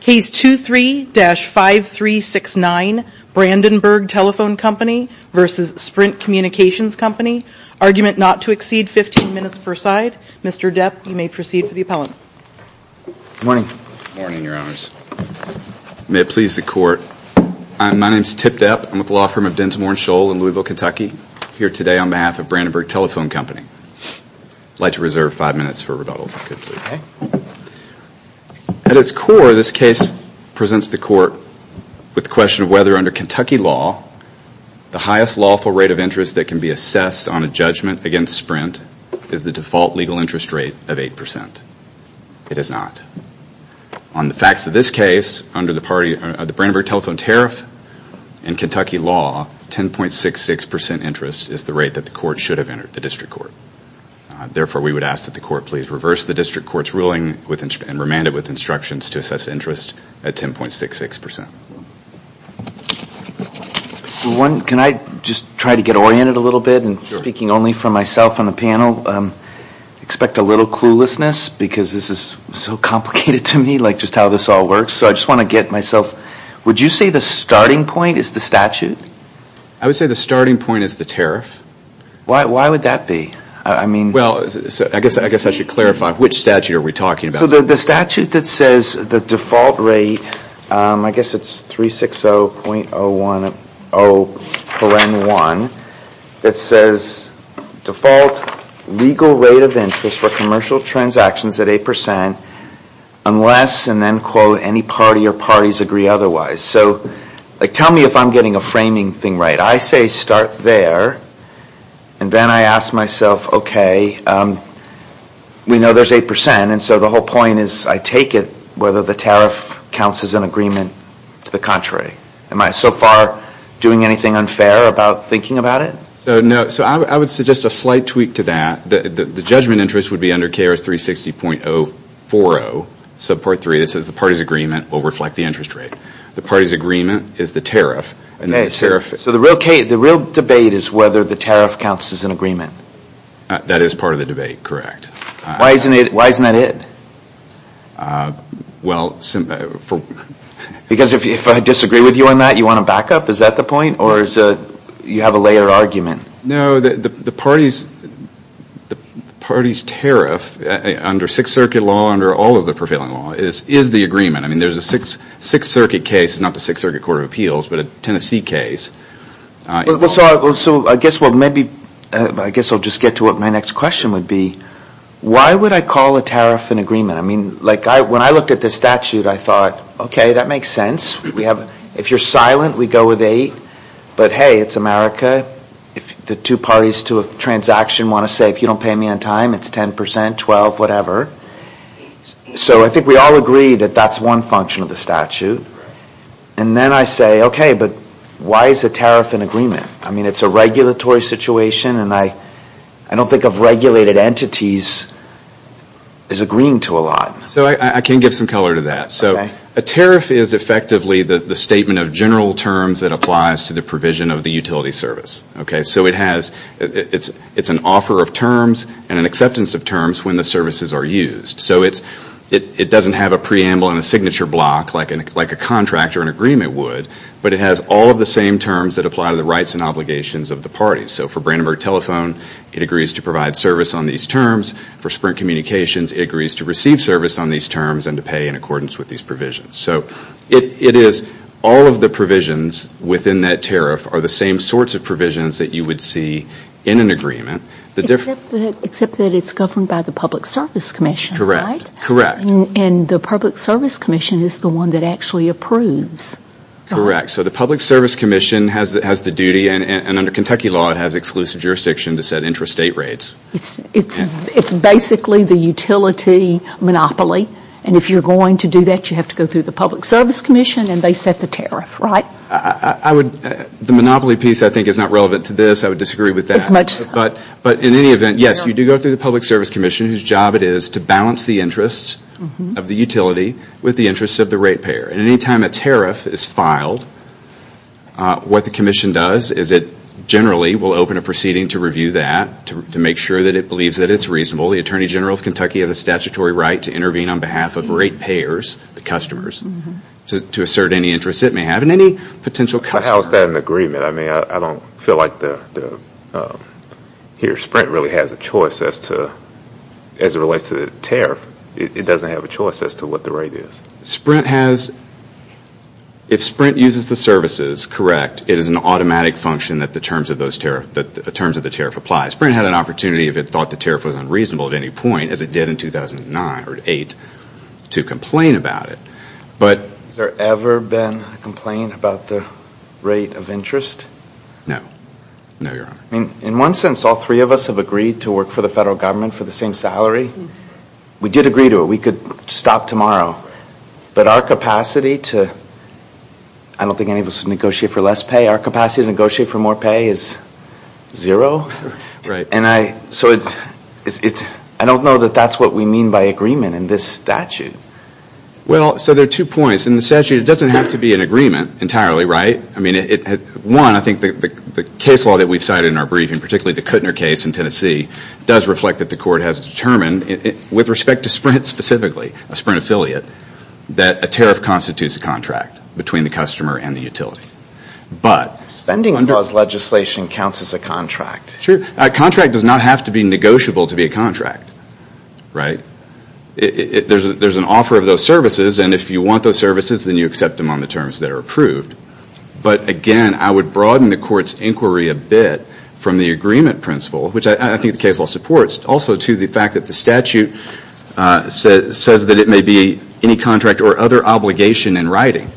Case 23-5369, Brandenburg Telephone Company v. Sprint Communications Company. Argument not to exceed 15 minutes per side. Mr. Depp, you may proceed for the appellant. Good morning. Good morning, Your Honors. May it please the Court. My name is Tip Depp. I'm with the law firm of Dinsmore & Scholl in Louisville, Kentucky. I'm here today on behalf of Brandenburg Telephone Company. I'd like to reserve five minutes for rebuttal if I could, please. At its core, this case presents the Court with the question of whether under Kentucky law, the highest lawful rate of interest that can be assessed on a judgment against Sprint is the default legal interest rate of 8%. It is not. On the facts of this case, under the Brandenburg Telephone Tariff, in Kentucky law, 10.66% interest is the rate that the Court should have entered, the District Court. Therefore, we would ask that the Court please reverse the District Court's ruling and remand it with instructions to assess interest at 10.66%. Can I just try to get oriented a little bit? Speaking only for myself on the panel, expect a little cluelessness because this is so complicated to me, just how this all works. So I just want to get myself... Would you say the starting point is the statute? I would say the starting point is the tariff. Why would that be? Well, I guess I should clarify, which statute are we talking about? The statute that says the default rate, I guess it's 360.010.1, that says default legal rate of interest for commercial transactions at 8% unless, and then quote, any party or parties agree otherwise. So tell me if I'm getting a framing thing right. I say start there, and then I ask myself, okay, we know there's 8%, and so the whole point is I take it whether the tariff counts as an agreement to the contrary. Am I so far doing anything unfair about thinking about it? So I would suggest a slight tweak to that. The judgment interest would be under KR 360.040, subpart 3, it says the party's agreement will reflect the interest rate. The party's agreement is the tariff. So the real debate is whether the tariff counts as an agreement. That is part of the debate, correct. Why isn't that it? Because if I disagree with you on that, you want to back up? Is that the point, or you have a layered argument? No, the party's tariff under Sixth Circuit law, under all of the prevailing law, is the agreement. I mean, there's a Sixth Circuit case, not the Sixth Circuit Court of Appeals, but a Tennessee case. So I guess we'll maybe, I guess I'll just get to what my next question would be. Why would I call a tariff an agreement? I mean, like when I looked at this statute, I thought, okay, that makes sense. If you're silent, we go with eight. But hey, it's America. If the two parties to a transaction want to say, if you don't pay me on time, it's 10%, 12%, whatever. So I think we all agree that that's one function of the statute. And then I say, okay, but why is a tariff an agreement? I mean, it's a regulatory situation, and I don't think of regulated entities as agreeing to a lot. So I can give some color to that. So a tariff is effectively the statement of general terms that applies to the provision of the utility service. So it's an offer of terms and an acceptance of terms when the services are used. So it doesn't have a preamble and a signature block like a contract or an agreement would, but it has all of the same terms that apply to the rights and obligations of the parties. So for Brandenburg Telephone, it agrees to provide service on these terms. For Sprint Communications, it agrees to receive service on these terms and to pay in accordance with these provisions. So it is all of the provisions within that tariff are the same sorts of provisions that you would see in an agreement. Except that it's governed by the Public Service Commission, right? Correct. And the Public Service Commission is the one that actually approves. Correct. So the Public Service Commission has the duty, and under Kentucky law, it has exclusive jurisdiction to set intrastate rates. It's basically the utility monopoly. And if you're going to do that, you have to go through the Public Service Commission, and they set the tariff, right? The monopoly piece, I think, is not relevant to this. I would disagree with that. But in any event, yes, you do go through the Public Service Commission, whose job it is to balance the interests of the utility with the interests of the rate payer. And any time a tariff is filed, what the commission does is it generally will open a proceeding to review that to make sure that it believes that it's reasonable. The Attorney General of Kentucky has a statutory right to intervene on behalf of rate payers, the customers, to assert any interest it may have in any potential customer. But how is that an agreement? I mean, I don't feel like the – here, Sprint really has a choice as to – as it relates to the tariff. It doesn't have a choice as to what the rate is. Sprint has – if Sprint uses the services, correct, it is an automatic function that the terms of the tariff apply. Sprint had an opportunity if it thought the tariff was unreasonable at any point, as it did in 2009 or 2008, to complain about it. But – Has there ever been a complaint about the rate of interest? No. No, Your Honor. I mean, in one sense, all three of us have agreed to work for the federal government for the same salary. We did agree to it. We could stop tomorrow. But our capacity to – I don't think any of us would negotiate for less pay. Our capacity to negotiate for more pay is zero. Right. And I – so it's – I don't know that that's what we mean by agreement in this statute. Well, so there are two points. In the statute, it doesn't have to be an agreement entirely, right? I mean, one, I think the case law that we've cited in our briefing, particularly the Kuttner case in Tennessee, does reflect that the court has determined, with respect to Sprint specifically, a Sprint affiliate, that a tariff constitutes a contract between the customer and the utility. But – Spending clause legislation counts as a contract. Sure. A contract does not have to be negotiable to be a contract, right? There's an offer of those services, and if you want those services, then you accept them on the terms that are approved. But, again, I would broaden the court's inquiry a bit from the agreement principle, which I think the case law supports, also to the fact that the statute says that it may be any contract or other obligation in writing.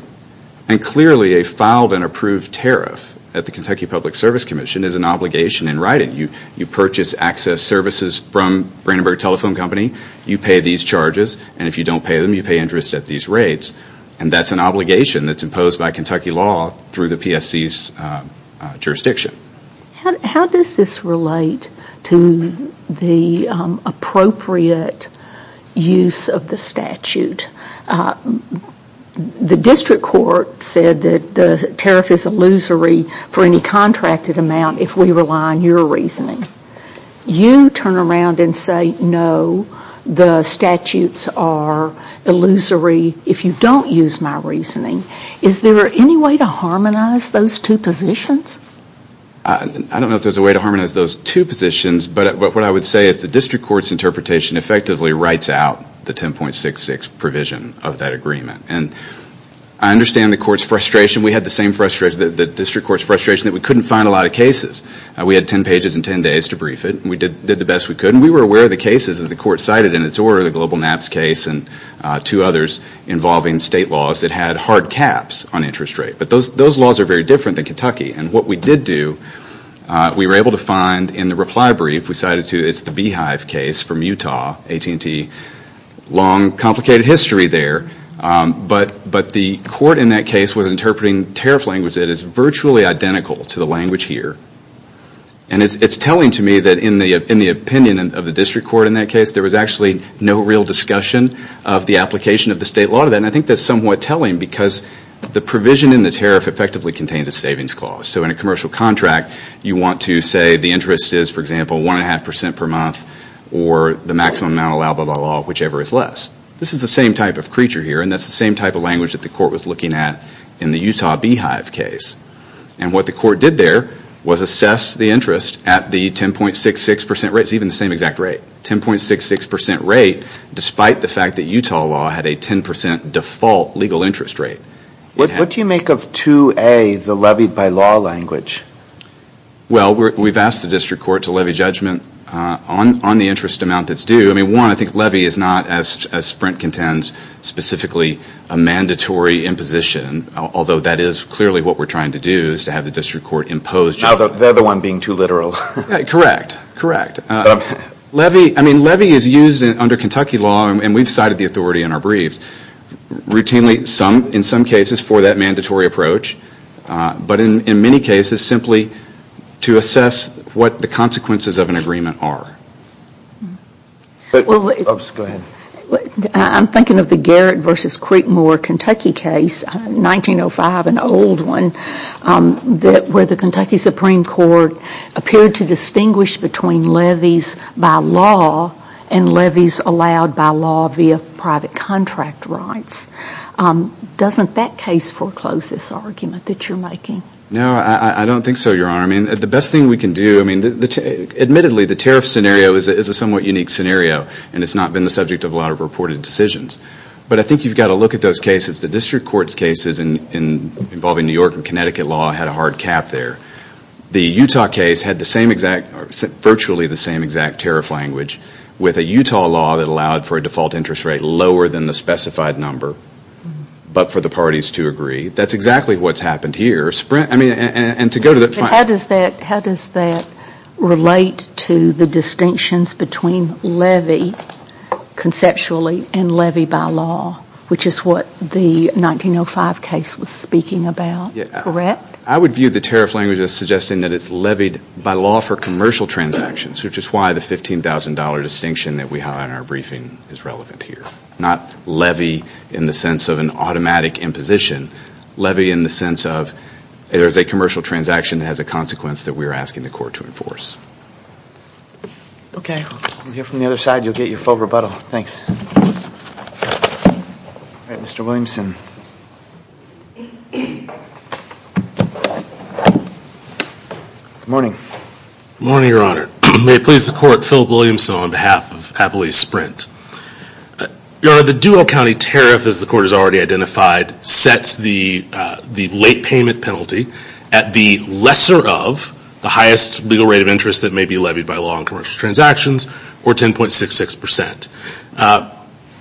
And, clearly, a filed and approved tariff at the Kentucky Public Service Commission is an obligation in writing. You purchase access services from Brandenburg Telephone Company, you pay these charges, and if you don't pay them, you pay interest at these rates. And that's an obligation that's imposed by Kentucky law through the PSC's jurisdiction. How does this relate to the appropriate use of the statute? The district court said that the tariff is illusory for any contracted amount if we rely on your reasoning. You turn around and say, no, the statutes are illusory if you don't use my reasoning. Is there any way to harmonize those two positions? I don't know if there's a way to harmonize those two positions, but what I would say is the district court's interpretation effectively writes out the 10.66 provision of that agreement. And I understand the court's frustration. We had the same frustration, the district court's frustration, that we couldn't find a lot of cases. We had 10 pages and 10 days to brief it, and we did the best we could. And we were aware of the cases, as the court cited in its order, the Global NAPCS case and two others involving state laws that had hard caps on interest rate. But those laws are very different than Kentucky. And what we did do, we were able to find in the reply brief we cited to, it's the Beehive case from Utah, AT&T. Long, complicated history there. But the court in that case was interpreting tariff language that is virtually identical to the language here. And it's telling to me that in the opinion of the district court in that case, there was actually no real discussion of the application of the state law to that. And I think that's somewhat telling, because the provision in the tariff effectively contains a savings clause. So in a commercial contract, you want to say the interest is, for example, 1.5% per month, or the maximum amount allowed by the law, whichever is less. This is the same type of creature here, and that's the same type of language that the court was looking at in the Utah Beehive case. And what the court did there was assess the interest at the 10.66% rate. It's even the same exact rate. 10.66% rate, despite the fact that Utah law had a 10% default legal interest rate. What do you make of 2A, the levied by law language? Well, we've asked the district court to levy judgment on the interest amount that's due. I mean, one, I think levy is not, as Sprint contends, specifically a mandatory imposition, although that is clearly what we're trying to do, is to have the district court impose judgment. They're the one being too literal. Correct, correct. I mean, levy is used under Kentucky law, and we've cited the authority in our briefs, routinely in some cases for that mandatory approach, but in many cases simply to assess what the consequences of an agreement are. Oops, go ahead. I'm thinking of the Garrett v. Creekmore, Kentucky case, 1905, an old one, where the Kentucky Supreme Court appeared to distinguish between levies by law and levies allowed by law via private contract rights. Doesn't that case foreclose this argument that you're making? No, I don't think so, Your Honor. I mean, the best thing we can do, I mean, admittedly, the tariff scenario is a somewhat unique scenario, and it's not been the subject of a lot of reported decisions. But I think you've got to look at those cases. The district court's cases involving New York and Connecticut law had a hard cap there. The Utah case had virtually the same exact tariff language with a Utah law that allowed for a default interest rate lower than the specified number, but for the parties to agree. That's exactly what's happened here. How does that relate to the distinctions between levy conceptually and levy by law, which is what the 1905 case was speaking about, correct? I would view the tariff language as suggesting that it's levied by law for commercial transactions, which is why the $15,000 distinction that we have in our briefing is relevant here, not levy in the sense of an automatic imposition, levy in the sense of there's a commercial transaction that has a consequence that we're asking the court to enforce. We'll hear from the other side. You'll get your full rebuttal. Thanks. All right. Mr. Williamson. Good morning. Good morning, Your Honor. May it please the court, Philip Williamson on behalf of Happily Sprint. Your Honor, the dual county tariff, as the court has already identified, sets the late payment penalty at the lesser of the highest legal rate of interest that may be levied by law on commercial transactions, or 10.66%.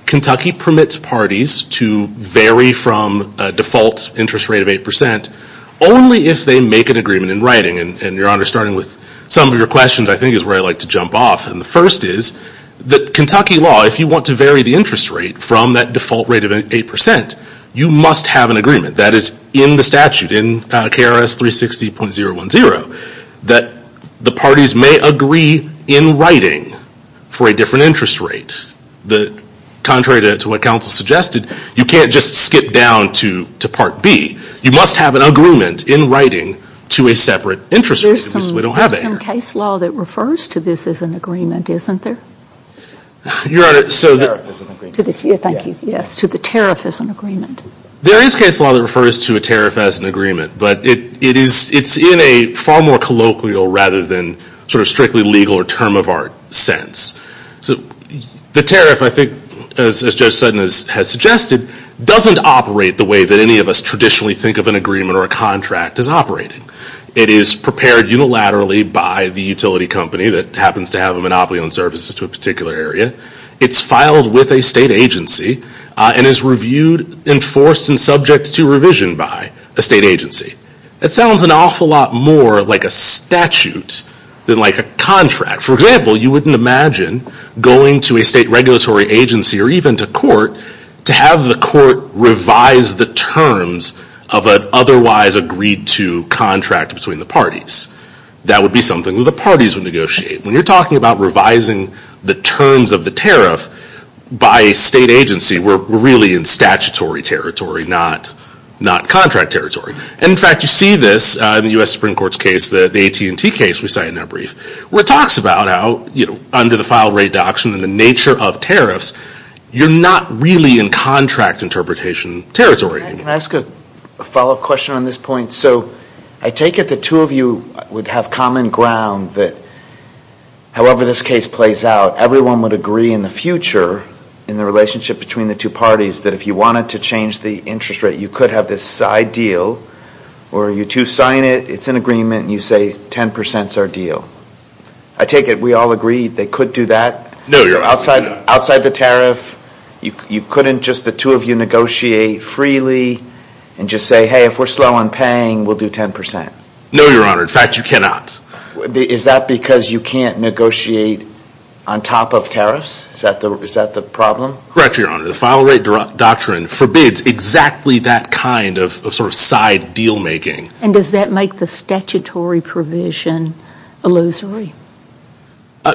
Kentucky permits parties to vary from a default interest rate of 8% only if they make an agreement in writing. And, Your Honor, starting with some of your questions, I think is where I'd like to jump off. And the first is that Kentucky law, if you want to vary the interest rate from that default rate of 8%, you must have an agreement. That is in the statute, in KRS 360.010, that the parties may agree in writing for a different interest rate. Contrary to what counsel suggested, you can't just skip down to Part B. You must have an agreement in writing to a separate interest rate. We have some case law that refers to this as an agreement, isn't there? Your Honor, so the- Tariff is an agreement. Thank you. Yes, to the tariff as an agreement. There is case law that refers to a tariff as an agreement. But it's in a far more colloquial rather than sort of strictly legal or term of art sense. The tariff, I think, as Judge Sutton has suggested, doesn't operate the way that any of us traditionally think of an agreement or a contract as operating. It is prepared unilaterally by the utility company that happens to have a monopoly on services to a particular area. It's filed with a state agency and is reviewed, enforced, and subject to revision by a state agency. That sounds an awful lot more like a statute than like a contract. For example, you wouldn't imagine going to a state regulatory agency or even to court to have the court revise the terms of an otherwise agreed to contract between the parties. That would be something that the parties would negotiate. When you're talking about revising the terms of the tariff by a state agency, we're really in statutory territory, not contract territory. In fact, you see this in the U.S. Supreme Court's case, the AT&T case we cited in that brief, where it talks about how under the file rate doctrine and the nature of tariffs, you're not really in contract interpretation territory. Can I ask a follow-up question on this point? So I take it the two of you would have common ground that however this case plays out, everyone would agree in the future in the relationship between the two parties that if you wanted to change the interest rate, you could have this side deal, or you two sign it, it's an agreement, and you say 10% is our deal. I take it we all agree they could do that? No, Your Honor. Outside the tariff, you couldn't just the two of you negotiate freely and just say, hey, if we're slow on paying, we'll do 10%? No, Your Honor. In fact, you cannot. Is that because you can't negotiate on top of tariffs? Is that the problem? Correct, Your Honor. The file rate doctrine forbids exactly that kind of sort of side deal making. And does that make the statutory provision illusory?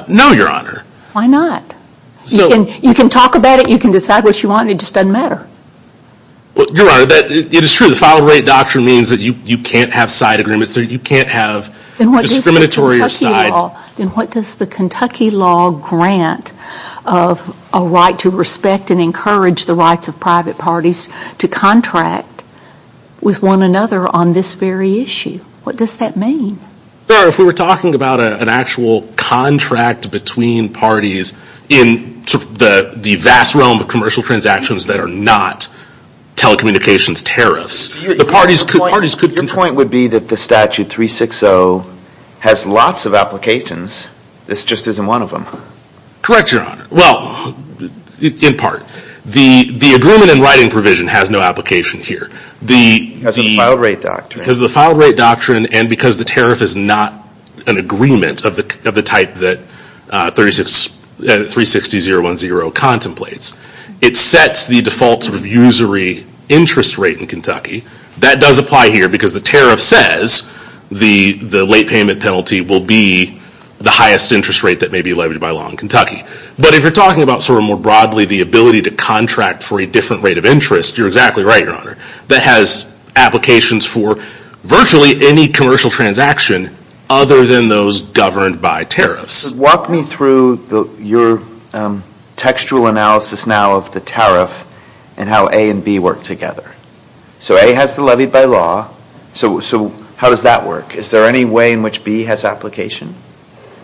No, Your Honor. Why not? You can talk about it. You can decide what you want. It just doesn't matter. Your Honor, it is true. The file rate doctrine means that you can't have side agreements. You can't have discriminatory or side. Then what does the Kentucky law grant of a right to respect and encourage the rights of private parties to contract with one another on this very issue? What does that mean? If we were talking about an actual contract between parties in the vast realm of commercial transactions that are not telecommunications tariffs, the parties could contract. Your point would be that the statute 360 has lots of applications. This just isn't one of them. Correct, Your Honor. Well, in part. The agreement in writing provision has no application here. Because of the file rate doctrine. And because the tariff is not an agreement of the type that 360.010 contemplates. It sets the default sort of usury interest rate in Kentucky. That does apply here because the tariff says the late payment penalty will be the highest interest rate that may be leveraged by law in Kentucky. But if you're talking about sort of more broadly the ability to contract for a different rate of interest, you're exactly right, Your Honor. That has applications for virtually any commercial transaction other than those governed by tariffs. Walk me through your textual analysis now of the tariff and how A and B work together. So A has to levy by law. So how does that work? Is there any way in which B has application?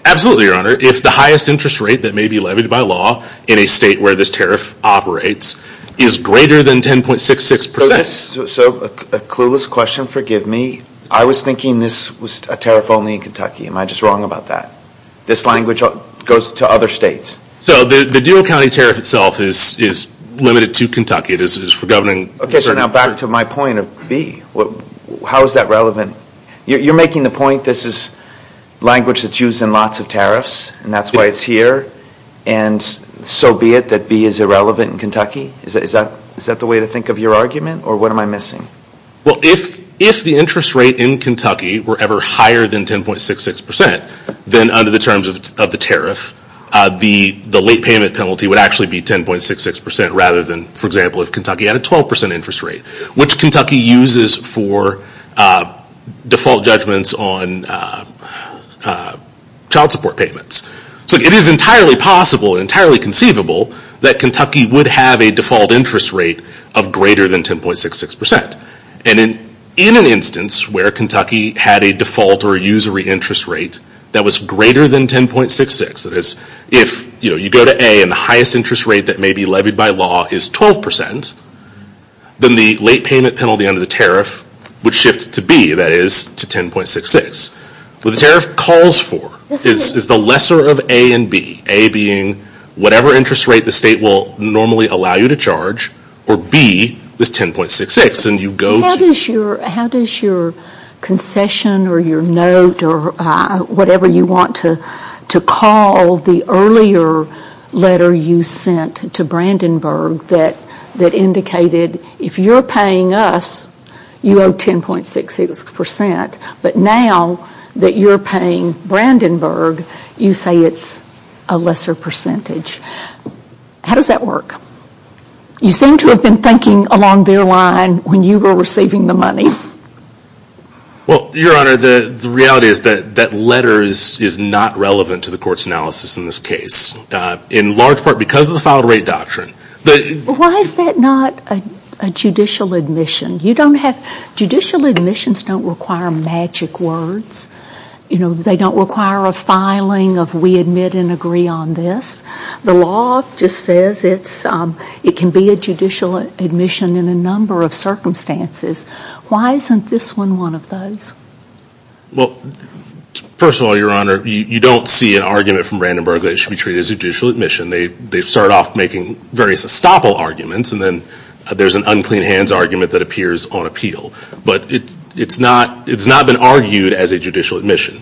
Absolutely, Your Honor. If the highest interest rate that may be levied by law in a state where this tariff operates is greater than 10.66%. So a clueless question, forgive me. I was thinking this was a tariff only in Kentucky. Am I just wrong about that? This language goes to other states. So the dual county tariff itself is limited to Kentucky. It is for governing. Okay, so now back to my point of B. How is that relevant? You're making the point this is language that's used in lots of tariffs and that's why it's here. And so be it that B is irrelevant in Kentucky? Is that the way to think of your argument, or what am I missing? Well, if the interest rate in Kentucky were ever higher than 10.66%, then under the terms of the tariff, the late payment penalty would actually be 10.66% rather than, for example, if Kentucky had a 12% interest rate, which Kentucky uses for default judgments on child support payments. So it is entirely possible and entirely conceivable that Kentucky would have a default interest rate of greater than 10.66%. And in an instance where Kentucky had a default or a usury interest rate that was greater than 10.66%, that is, if you go to A and the highest interest rate that may be levied by law is 12%, then the late payment penalty under the tariff would shift to B, that is, to 10.66%. What the tariff calls for is the lesser of A and B, A being whatever interest rate the state will normally allow you to charge, or B is 10.66%. How does your concession or your note or whatever you want to call the earlier letter you sent to Brandenburg that indicated, if you are paying us, you owe 10.66%, but now that you are paying Brandenburg, you say it is a lesser percentage? How does that work? You seem to have been thinking along their line when you were receiving the money. Well, Your Honor, the reality is that letter is not relevant to the court's analysis in this case, in large part because of the filed rate doctrine. Why is that not a judicial admission? Judicial admissions don't require magic words. They don't require a filing of we admit and agree on this. The law just says it can be a judicial admission in a number of circumstances. Why isn't this one one of those? Well, first of all, Your Honor, you don't see an argument from Brandenburg that it should be treated as a judicial admission. They start off making various estoppel arguments, and then there's an unclean hands argument that appears on appeal. But it's not been argued as a judicial admission.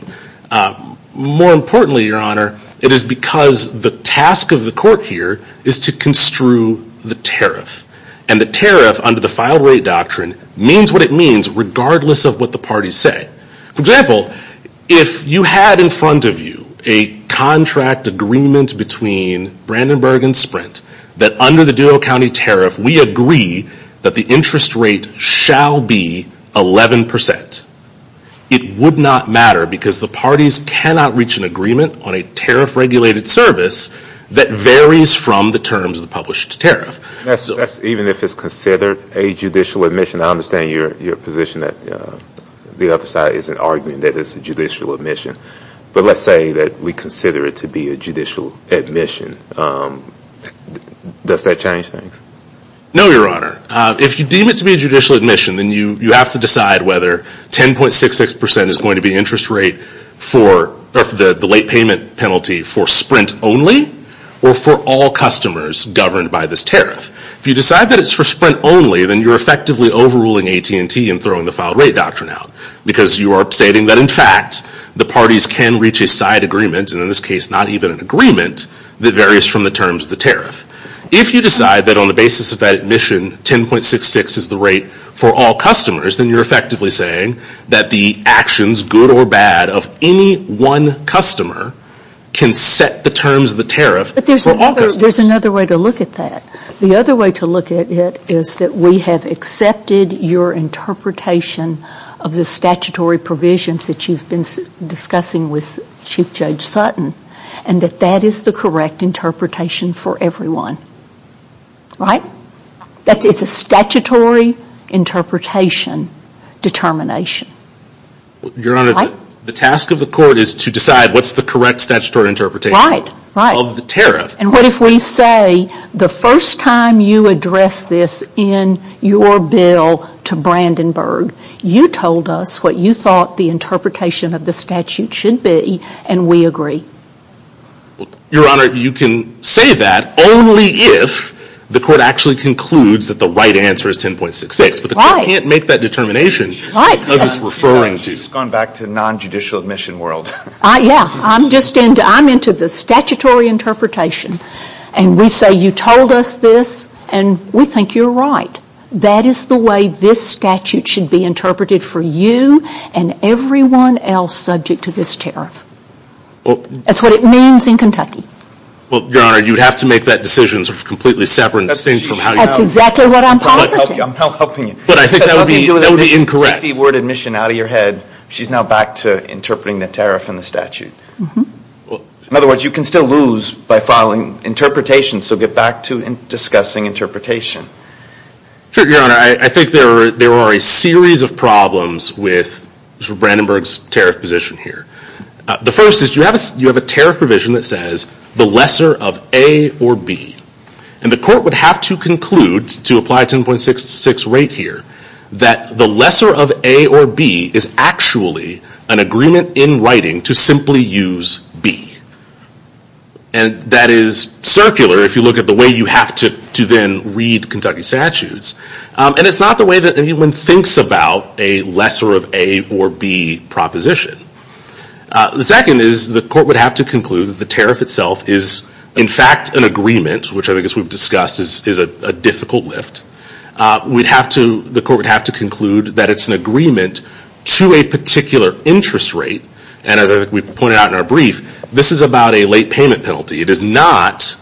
More importantly, Your Honor, it is because the task of the court here is to construe the tariff, and the tariff under the filed rate doctrine means what it means regardless of what the parties say. For example, if you had in front of you a contract agreement between Brandenburg and Sprint that under the Duro County tariff we agree that the interest rate shall be 11%, it would not matter because the parties cannot reach an agreement on a tariff-regulated service that varies from the terms of the published tariff. Even if it's considered a judicial admission, I understand your position that the other side isn't arguing that it's a judicial admission. But let's say that we consider it to be a judicial admission. Does that change things? No, Your Honor. If you deem it to be a judicial admission, then you have to decide whether 10.66% is going to be the late payment penalty for Sprint only or for all customers governed by this tariff. If you decide that it's for Sprint only, then you're effectively overruling AT&T and throwing the filed rate doctrine out because you are stating that, in fact, the parties can reach a side agreement, and in this case not even an agreement, that varies from the terms of the tariff. If you decide that on the basis of that admission 10.66% is the rate for all customers, then you're effectively saying that the actions, good or bad, of any one customer can set the terms of the tariff for all customers. But there's another way to look at that. The other way to look at it is that we have accepted your interpretation of the statutory provisions that you've been discussing with Chief Judge Sutton and that that is the correct interpretation for everyone. Right? It's a statutory interpretation determination. Your Honor, the task of the court is to decide what's the correct statutory interpretation of the tariff. And what if we say the first time you addressed this in your bill to Brandenburg, you told us what you thought the interpretation of the statute should be, and we agree. Your Honor, you can say that only if the court actually concludes that the right answer is 10.66. Right. But the court can't make that determination of its referring to. She's gone back to non-judicial admission world. Yeah. I'm into the statutory interpretation. And we say you told us this and we think you're right. That is the way this statute should be interpreted for you and everyone else subject to this tariff. That's what it means in Kentucky. Well, Your Honor, you'd have to make that decision completely separate and distinct from how you know it. That's exactly what I'm positing. I'm not helping you. But I think that would be incorrect. Take the word admission out of your head. She's now back to interpreting the tariff in the statute. In other words, you can still lose by filing interpretation. So get back to discussing interpretation. Your Honor, I think there are a series of problems with Brandenburg's tariff position here. The first is you have a tariff provision that says the lesser of A or B. And the court would have to conclude, to apply 10.66 right here, that the lesser of A or B is actually an agreement in writing to simply use B. And that is circular if you look at the way you have to then read Kentucky statutes. And it's not the way that anyone thinks about a lesser of A or B proposition. The second is the court would have to conclude that the tariff itself is in fact an agreement, which I think as we've discussed is a difficult lift. The court would have to conclude that it's an agreement to a particular interest rate. And as we pointed out in our brief, this is about a late payment penalty. It is not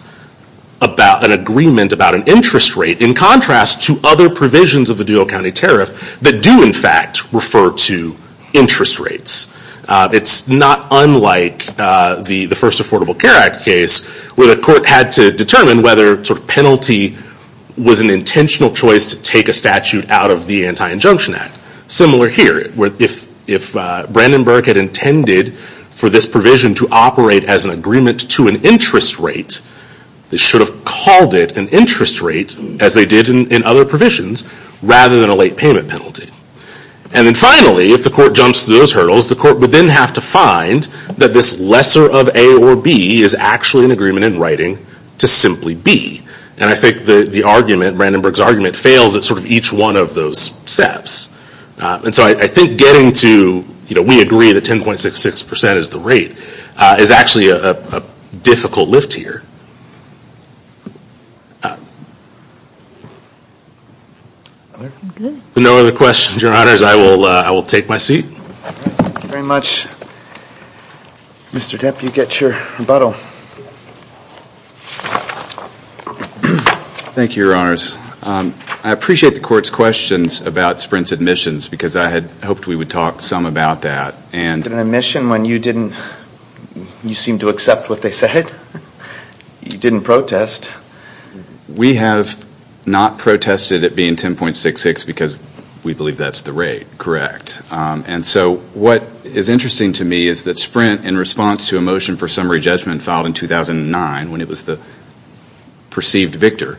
an agreement about an interest rate in contrast to other provisions of the Duo County Tariff that do in fact refer to interest rates. It's not unlike the first Affordable Care Act case where the court had to determine whether penalty was an intentional choice to take a statute out of the Anti-Injunction Act. Similar here, where if Brandenburg had intended for this provision to operate as an agreement to an interest rate, they should have called it an interest rate, as they did in other provisions, rather than a late payment penalty. And then finally, if the court jumps through those hurdles, the court would then have to find that this lesser of A or B is actually an agreement in writing to simply B. And I think the argument, Brandenburg's argument, fails at sort of each one of those steps. And so I think getting to, you know, we agree that 10.66% is the rate, is actually a difficult lift here. No other questions, your honors. I will take my seat. Thank you very much. Mr. Depp, you get your rebuttal. Thank you, your honors. I appreciate the court's questions about Sprint's admissions, because I had hoped we would talk some about that. Was it an admission when you didn't, you seemed to accept what they said? You didn't protest. We have not protested at being 10.66, because we believe that's the rate, correct. And so what is interesting to me is that Sprint, in response to a motion for summary judgment filed in 2009, when it was the perceived victor,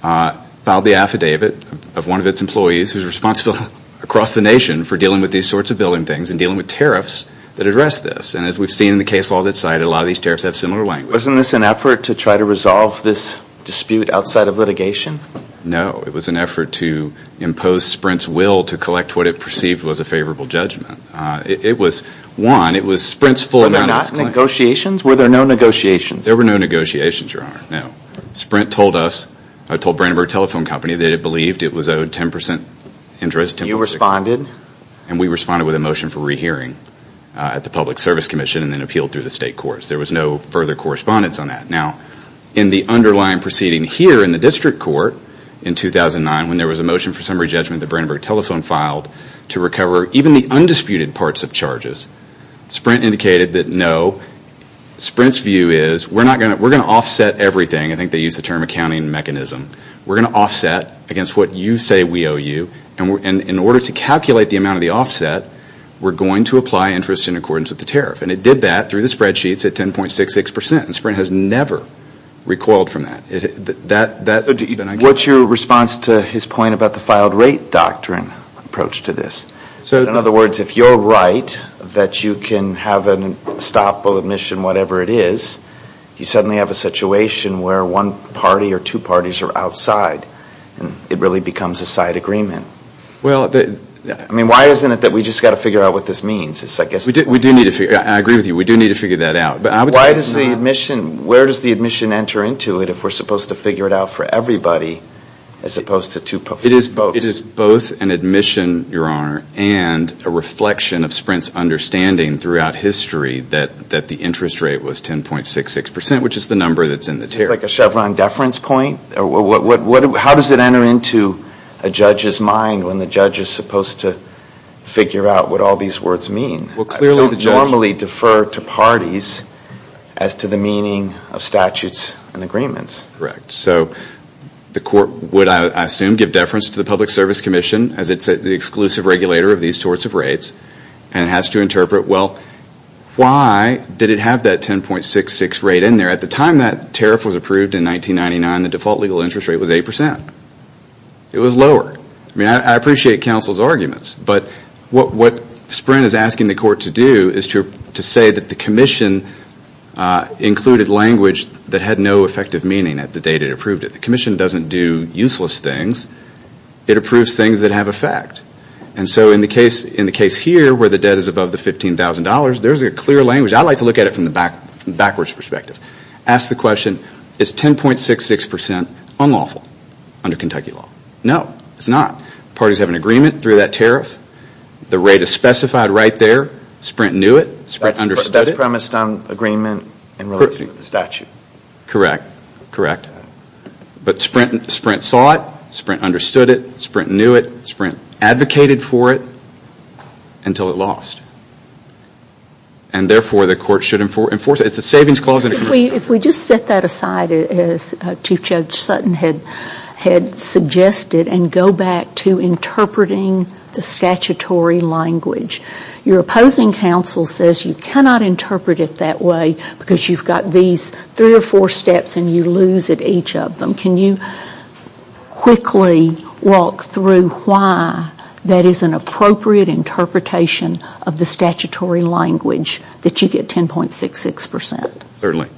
filed the affidavit of one of its employees, who is responsible across the nation for dealing with these sorts of billing things and dealing with tariffs that address this. And as we've seen in the case law that's cited, a lot of these tariffs have similar language. Wasn't this an effort to try to resolve this dispute outside of litigation? No, it was an effort to impose Sprint's will to collect what it perceived was a favorable judgment. It was, one, it was Sprint's full amount. And we responded with a motion for rehearing at the Public Service Commission and then appealed through the state courts. There was no further correspondence on that. Now, in the underlying proceeding here in the district court in 2009, when there was a motion for summary judgment that Brandenburg Telephone filed to recover even the undisputed parts of charges, Sprint indicated that no. Sprint's view is, we're going to offset everything. I think they used the term accounting mechanism. We're going to offset against what you say we owe you. And in order to calculate the amount of the offset, we're going to apply interest in accordance with the tariff. And it did that through the spreadsheets at 10.66%. And Sprint has never recoiled from that. What's your response to his point about the filed rate doctrine approach to this? In other words, if you're right that you can have a stop of admission, whatever it is, you suddenly have a situation where one party or two parties are outside. And it really becomes a side agreement. I mean, why isn't it that we just got to figure out what this means? I agree with you. We do need to figure that out. Where does the admission enter into it if we're supposed to figure it out for everybody as opposed to two parties? It is both an admission, Your Honor, and a reflection of Sprint's understanding throughout history that the interest rate was 10.66%, which is the number that's in the tariff. It's like a Chevron deference point? How does it enter into a judge's mind when the judge is supposed to figure out what all these words mean? I don't normally defer to parties as to the meaning of statutes and agreements. Correct. So the court would, I assume, give deference to the Public Service Commission, as it's the exclusive regulator of these sorts of rates, and has to interpret, well, why did it have that 10.66 rate in there? At the time that tariff was approved in 1999, the default legal interest rate was 8%. It was lower. I mean, I appreciate counsel's arguments, but what Sprint is asking the court to do is to say that the commission included language that had no effective meaning at the date it approved it. The commission doesn't do useless things. It approves things that have effect. And so in the case here, where the debt is above the $15,000, there's a clear language. I like to look at it from the backwards perspective. Ask the question, is 10.66% unlawful under Kentucky law? No, it's not. Parties have an agreement through that tariff. The rate is specified right there. Sprint knew it. Sprint understood it. That's premised on agreement in relation to the statute? Correct, correct. But Sprint saw it. Sprint understood it. Sprint knew it. Sprint advocated for it until it lost. And therefore, the court should enforce it. It's a savings clause. If we just set that aside, as Chief Judge Sutton had suggested, and go back to interpreting the statutory language. Your opposing counsel says you cannot interpret it that way because you've got these three or four steps and you lose at each of them. Can you quickly walk through why that is an appropriate interpretation of the statutory language that you get 10.66%? Certainly.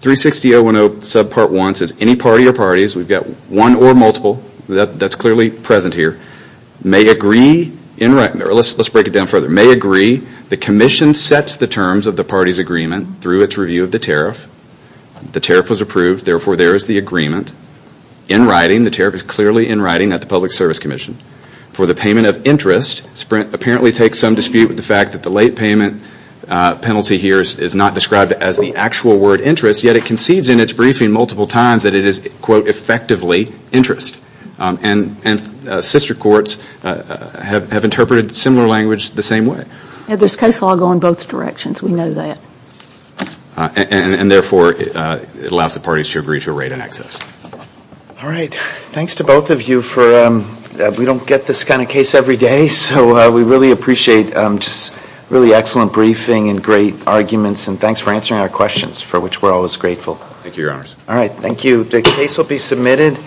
360.010 subpart 1 says any party or parties, we've got one or multiple, that's clearly present here, may agree in writing. Let's break it down further. May agree the commission sets the terms of the party's agreement through its review of the tariff. The tariff was approved. Therefore, there is the agreement. In writing, the tariff is clearly in writing at the Public Service Commission. For the payment of interest, Sprint apparently takes some dispute with the fact that the late payment penalty here is not described as the actual word interest. Yet it concedes in its briefing multiple times that it is, quote, effectively interest. And sister courts have interpreted similar language the same way. There's case law going both directions. We know that. And therefore, it allows the parties to agree to a rate in excess. All right. Thanks to both of you. We don't get this kind of case every day, so we really appreciate really excellent briefing and great arguments. And thanks for answering our questions, for which we're always grateful. Thank you, Your Honors. All right. Thank you. The case will be submitted.